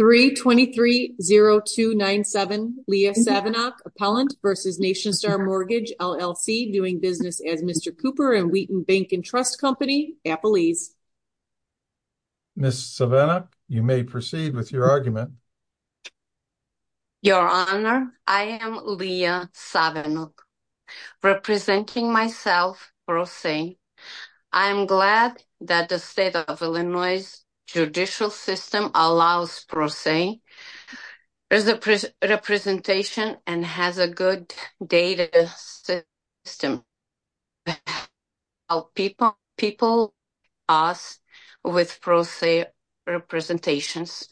3230297 Leah Savenok, Appellant v. Nationstar Mortgage LLC, doing business as Mr. Cooper and Wheaton Bank & Trust Company, Appalese. Ms. Savenok, you may proceed with your argument. Your Honor, I am Leah Savenok, representing myself, Pro Se. I am glad that the State of Illinois's judicial system allows Pro Se representation and has a good data system to help people like us with Pro Se representations.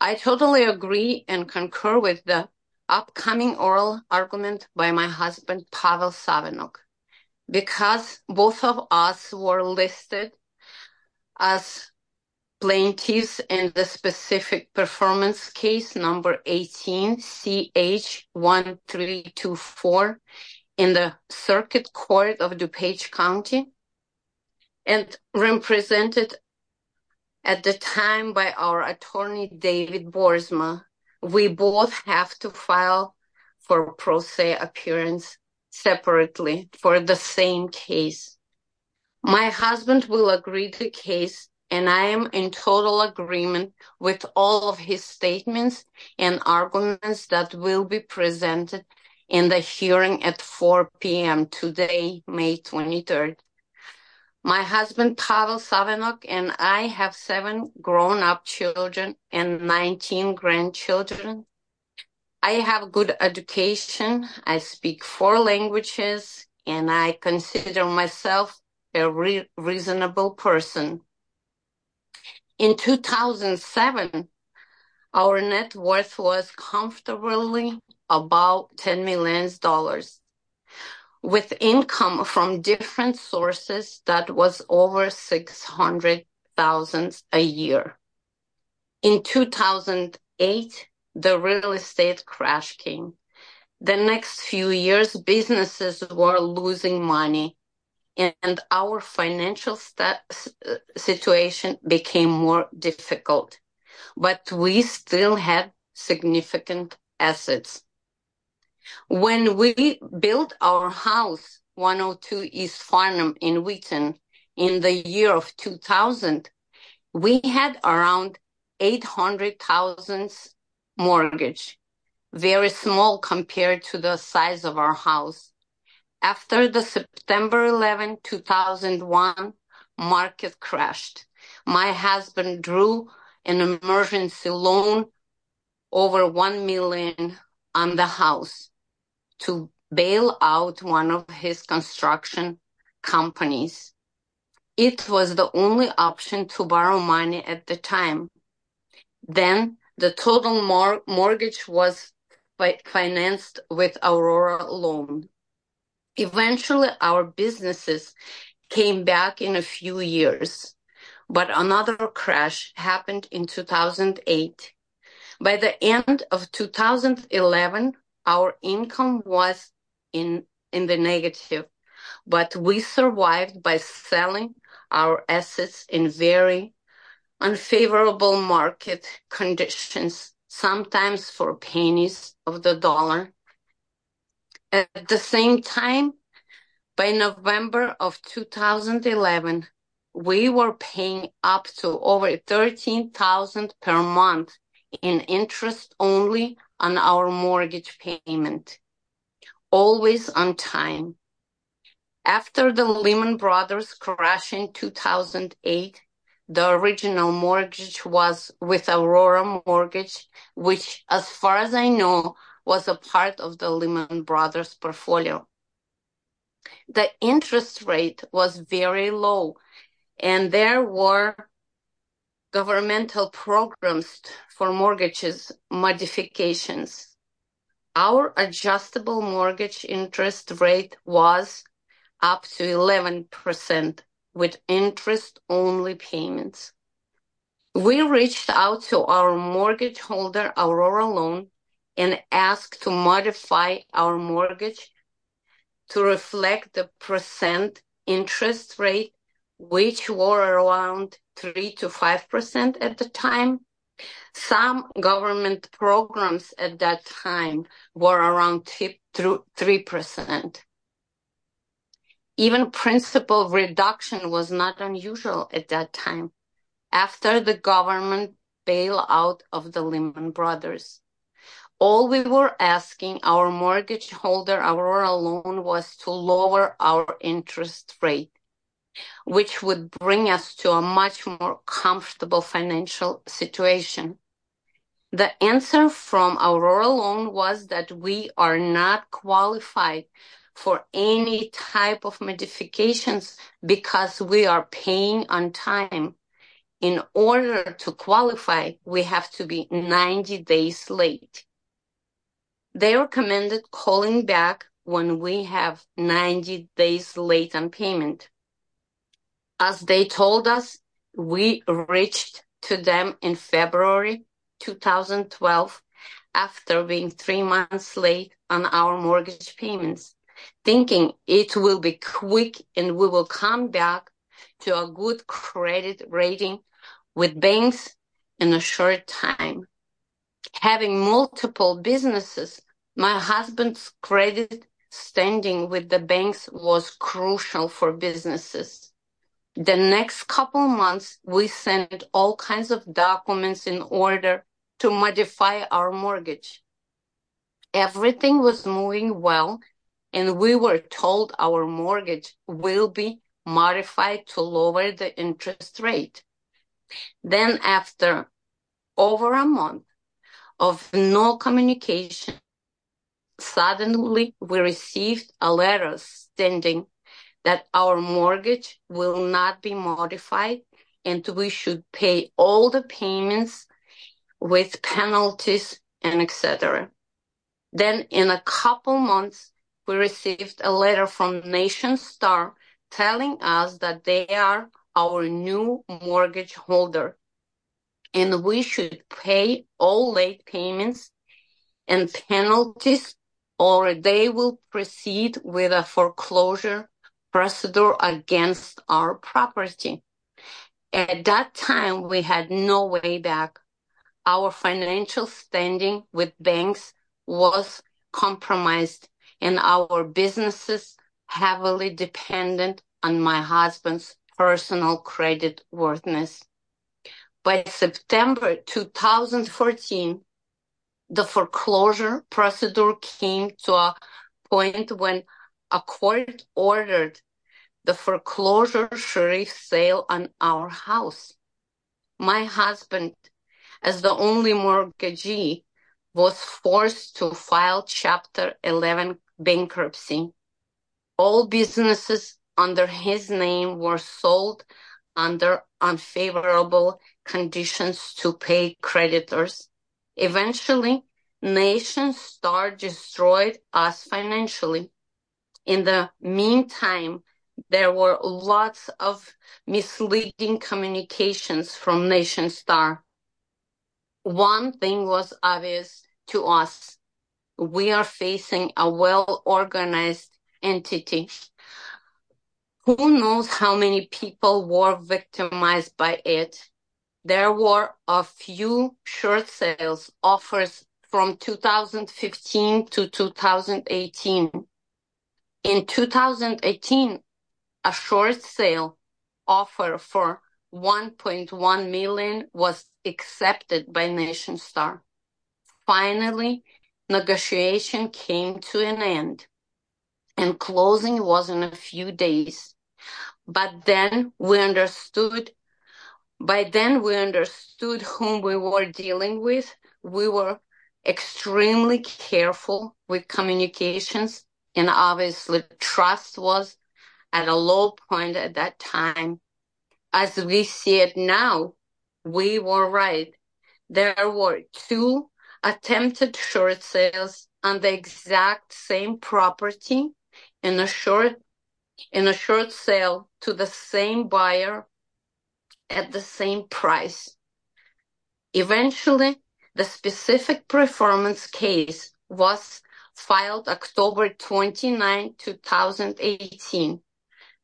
I totally agree and concur with the upcoming oral argument by my husband, Pavel Savenok. Because both of us were listed as plaintiffs in the specific performance case number 18 CH1324 in the Circuit Court of DuPage County and represented at the time by our attorney, David Boersma. We both have to file for Pro Se appearance separately for the same case. My husband will agree to case and I am in total agreement with all of his statements and arguments that will be presented in the hearing at 4 p.m. today, May 23rd. My husband, Pavel Savenok, and I have seven grown-up children and 19 grandchildren. I have good education, I speak four languages, and I consider myself a reasonable person. In 2007, our net worth was comfortably about $10 million with income from different sources that was over $600,000 a year. In 2008, the real estate crash came. The next few years, businesses were losing money and our financial situation became more difficult, but we still had significant assets. When we built our house, 102 East Farnham in Wheaton, in the year of 2000, we had around $800,000 mortgage, very small compared to the size of our house. After the September 11, 2001, market crashed. My husband drew an emergency loan over $1 million on the house to bail out one of his construction companies. It was the only option to borrow money at the time. Then, the total mortgage was financed with Aurora loan. Eventually, our businesses came back in a few years, but another crash happened in 2008. By the end of 2011, our income was in the negative, but we survived by selling our assets in very unfavorable market conditions, sometimes for pennies of the dollar. At the same time, by November of 2011, we were paying up to over $13,000 per month in interest only on our mortgage payment, always on time. After the Lehman Brothers crash in 2008, the original mortgage was with Aurora mortgage, which as far as I know, was a part of the Lehman Brothers portfolio. The interest rate was very low and there were governmental programs for mortgages modifications. Our adjustable mortgage interest rate was up to 11% with interest only payments. We reached out to our mortgage holder, Aurora loan, and asked to modify our mortgage to reflect the percent interest rate, which were around 3% to 5% at the time. Some government programs at that time were around 3%. Even principal reduction was not unusual at that time, after the government bailout of the Lehman Brothers. All we were asking our mortgage holder, Aurora loan, was to lower our interest rate, which would bring us to a much more comfortable financial situation. The answer from Aurora loan was that we are not qualified for any type of modifications because we are paying on time. In order to qualify, we have to be 90 days late. They recommended calling back when we have 90 days late on payment. As they told us, we reached to them in February 2012, after being 3 months late on our mortgage payments, thinking it will be quick and we will come back to a good credit rating with banks in a short time. Having multiple businesses, my husband's credit standing with the banks was crucial for businesses. The next couple months, we sent all kinds of documents in order to modify our mortgage. Everything was moving well and we were told our mortgage will be modified to lower the interest rate. Then after over a month of no communication, suddenly we received a letter stating that our mortgage is being modified. Then in a couple months, we received a letter from Nation Star telling us that they are our new mortgage holder and we should pay all late payments and penalties or they will proceed with a foreclosure procedure against our property. At that time, we had no way back. Our financial standing with banks was compromised and our businesses heavily dependent on my husband's personal credit worthiness. By September 2014, the foreclosure procedure came to a point when a court ordered the foreclosure sheriff's sale on our house. My husband, as the only mortgagee, was forced to file Chapter 11 bankruptcy. All businesses under his name were sold under unfavorable conditions to pay creditors. Eventually, Nation Star destroyed us financially. In the meantime, there were lots of misleading communications from Nation Star. One thing was obvious to us. We are facing a well-organized entity. Who knows how many people were victimized by it? There were a few short sales offers from 2015 to 2018. In 2018, a short sale offer for $1.1 million was accepted by Nation Star. Finally, negotiation came to an end and closing was in a few days. By then, we understood whom we were dealing with. We were extremely careful with communications and obviously trust was at a low point at that time. As we see it now, we were right. There were two attempted short sales on the exact same property in a short sale to the same buyer at the same price. Eventually, the specific performance case was filed on October 29, 2018.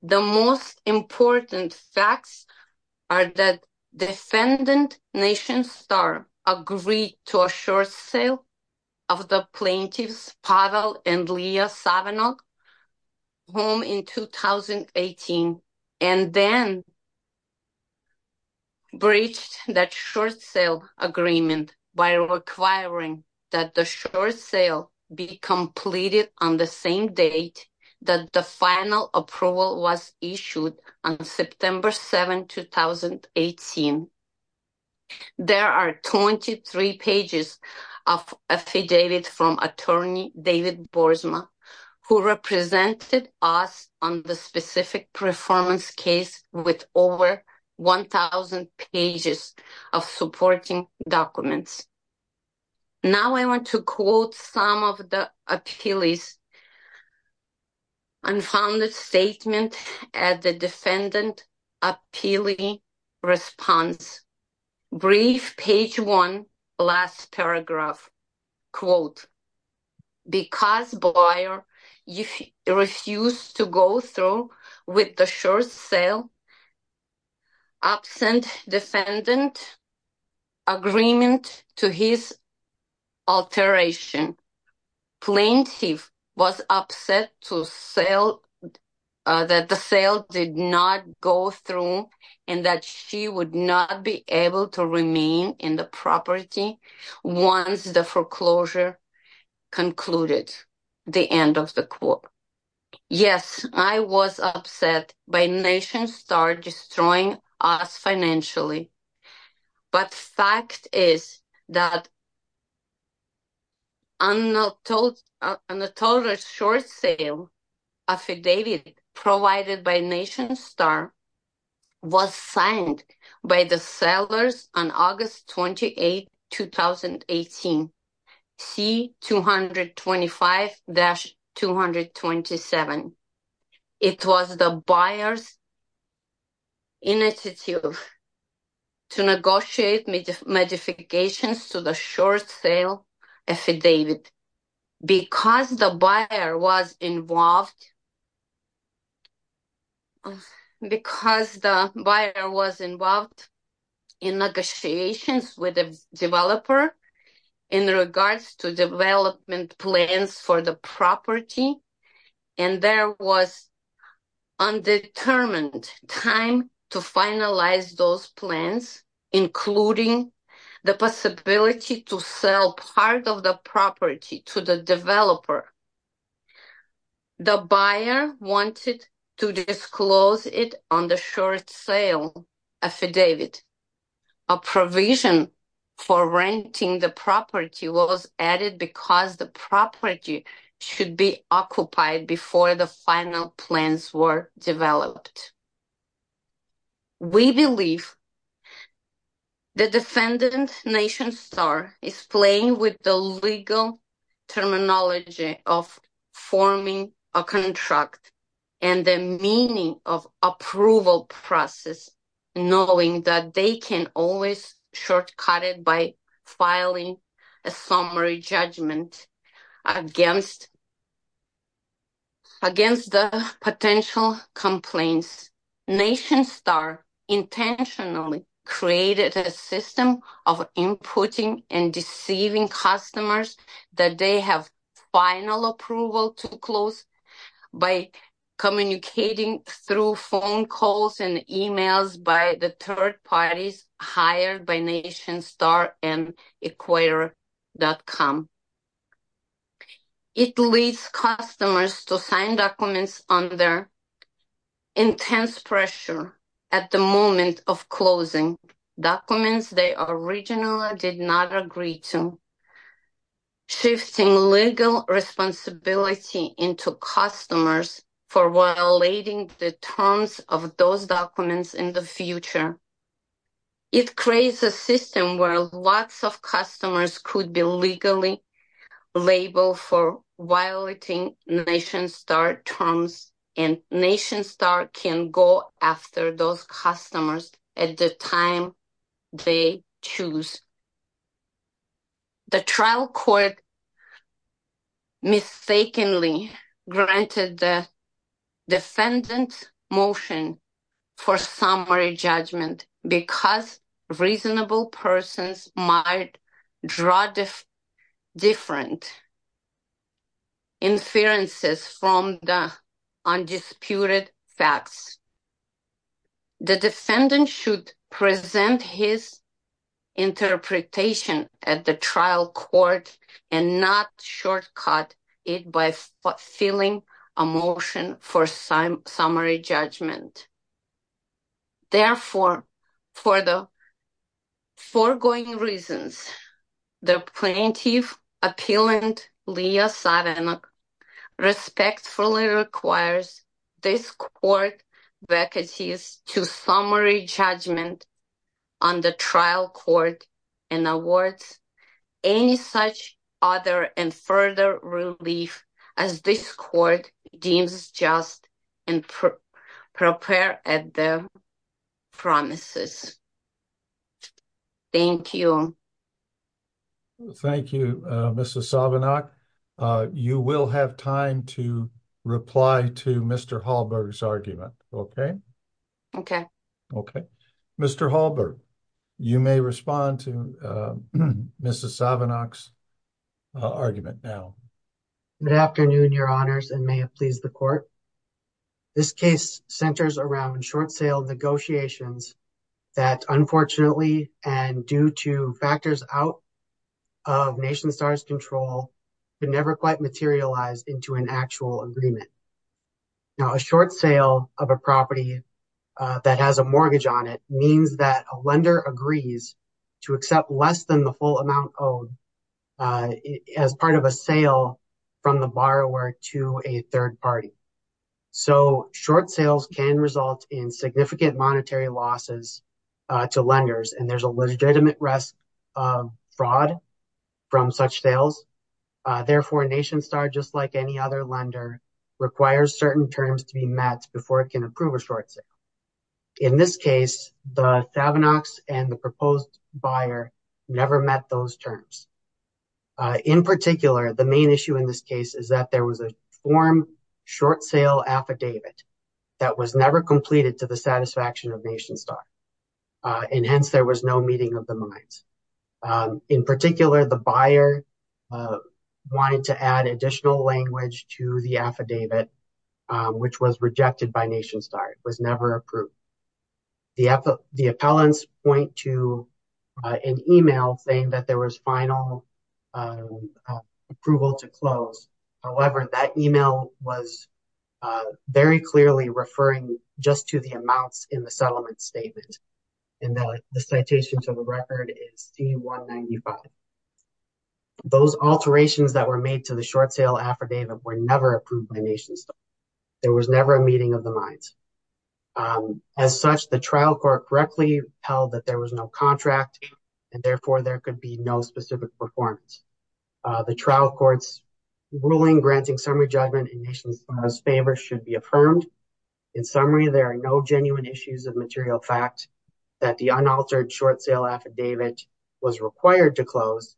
The most important facts are that defendant Nation Star agreed to a short sale of the plaintiffs, Pavel and Leah that short sale agreement by requiring that the short sale be completed on the same date that the final approval was issued on September 7, 2018. There are 23 pages affidavit from attorney Boersma who represented us on the specific performance case with over 1,000 pages of supporting documents. Now I want to quote some of the appealees. Unfounded statement at the defendant appealee response. Brief page one, last paragraph. Quote, because buyer refused to go through with the short sale, absent defendant agreement to his alteration. Plaintiff was upset that the sale did not go through and that she would not be able to remain in the property once the foreclosure concluded. The end of the quote. Yes, I was upset by Nation Star destroying us financially, but fact is that the total short sale affidavit provided by Nation Star was signed by the sellers on August 28, 2018, C-225-227. It was the buyer's initiative to negotiate modifications to the short sale affidavit. Because the buyer was involved in negotiations with the developer in regards to development plans for the property and there was undetermined time to finalize those plans, including the possibility to sell part of the property to the developer. The buyer wanted to disclose it on the short sale affidavit. A provision for renting the property was added because the property should be occupied before the final plans were developed. We believe the defendant, Nation Star, is playing with the legal terminology of forming a contract and the meaning of approval process, knowing that they can always shortcut it by filing a summary judgment against the potential complaints. Nation Star intentionally created a system of inputting and deceiving customers that they have final approval to close by communicating through phone calls and emails by the third parties hired by NationStar and Equator.com. It leads customers to sign documents under intense pressure at the moment of closing documents they originally did not agree to, shifting legal responsibility into customers for violating the terms of those documents in the future. It creates a system where lots of customers could be legally labeled for violating NationStar terms and NationStar can go after those defendants' motion for summary judgment because reasonable persons might draw different inferences from the undisputed facts. The defendant should present his motion for summary judgment. Therefore, for the foregoing reasons, the plaintiff, Appellant Leah Savenok, respectfully requires this court vacancies to summary judgment on the trial court and awards any such other and further relief as this court deems just and prepare at the promises. Thank you. Thank you, Mrs. Savenok. You will have time to reply to Mr. Hallberg's argument. Okay. Okay. Okay. Mr. Hallberg, you may respond to Mrs. Savenok's argument now. Good afternoon, your honors, and may it please the court. This case centers around short-sale negotiations that, unfortunately, and due to factors out of NationStar's control, could never quite materialize into an actual agreement. Now, a short sale of a property that has a mortgage on it means that a lender agrees to accept less than the full amount owed as part of a sale from the borrower to a third party. So, short sales can result in significant Therefore, NationStar, just like any other lender, requires certain terms to be met before it can approve a short sale. In this case, the Savenoks and the proposed buyer never met those terms. In particular, the main issue in this case is that there was a form short sale affidavit that was never completed to the satisfaction of NationStar, and hence there was no meeting of buyer wanted to add additional language to the affidavit, which was rejected by NationStar. It was never approved. The appellants point to an email saying that there was final approval to close. However, that email was very clearly referring just to the amounts in the settlement statement, and the citation to the record is C-195. Those alterations that were made to the short sale affidavit were never approved by NationStar. There was never a meeting of the minds. As such, the trial court correctly held that there was no contract, and therefore, there could be no specific performance. The trial court's ruling granting summary judgment in summary, there are no genuine issues of material fact that the unaltered short sale affidavit was required to close,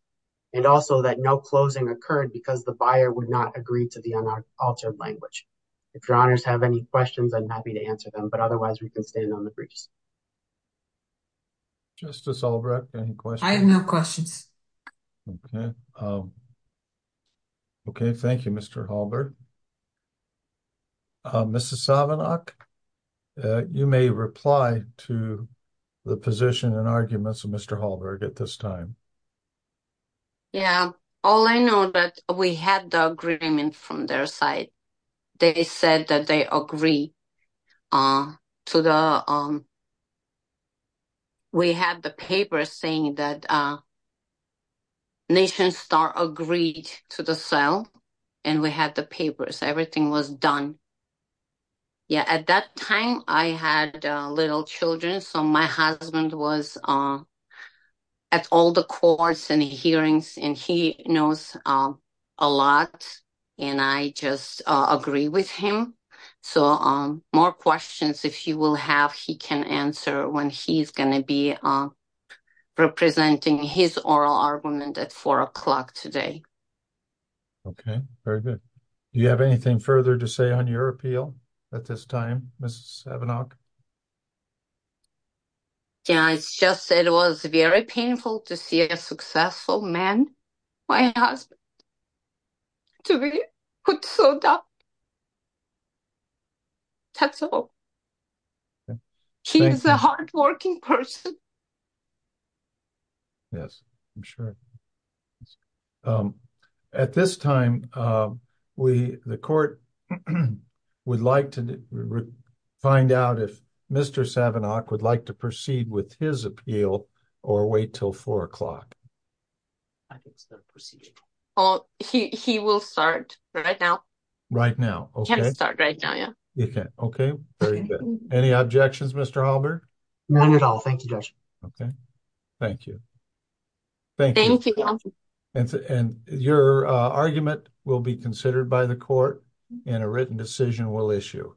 and also that no closing occurred because the buyer would not agree to the unaltered language. If your honors have any questions, I'm happy to answer them, but otherwise we can stand on the briefs. Justice Albrecht, any questions? I have no questions. Okay. Okay. Thank you, Mr. Halberg. Mrs. Savanach, you may reply to the position and arguments of Mr. Halberg at this time. Yeah. All I know that we had the agreement from their side. They said that they agree. We had the paper saying that NationStar agreed to the sale, and we had the papers. Everything was done. Yeah. At that time, I had little children, so my husband was at all the courts and hearings, and he knows a lot, and I just agree with him. So, more questions, if you will have, he can answer when he's going to be representing his oral argument at 4 o'clock today. Okay. Very good. Do you have anything further to say on your appeal at this time, Mrs. Savanach? Yeah, it's just, it was very painful to see a successful man, my husband, to be put so down. That's all. He's a hardworking person. Yes, I'm sure. At this time, we, the court would like to find out if Mr. Savanach would like to proceed with his appeal, or wait till 4 o'clock. He will start right now. Right now, okay. He can start right now, yeah. Okay, very good. Any objections, Mr. Halberg? None at all, thank you, Judge. Okay, thank you. Thank you. And your argument will be considered by the court, and a written decision will issue.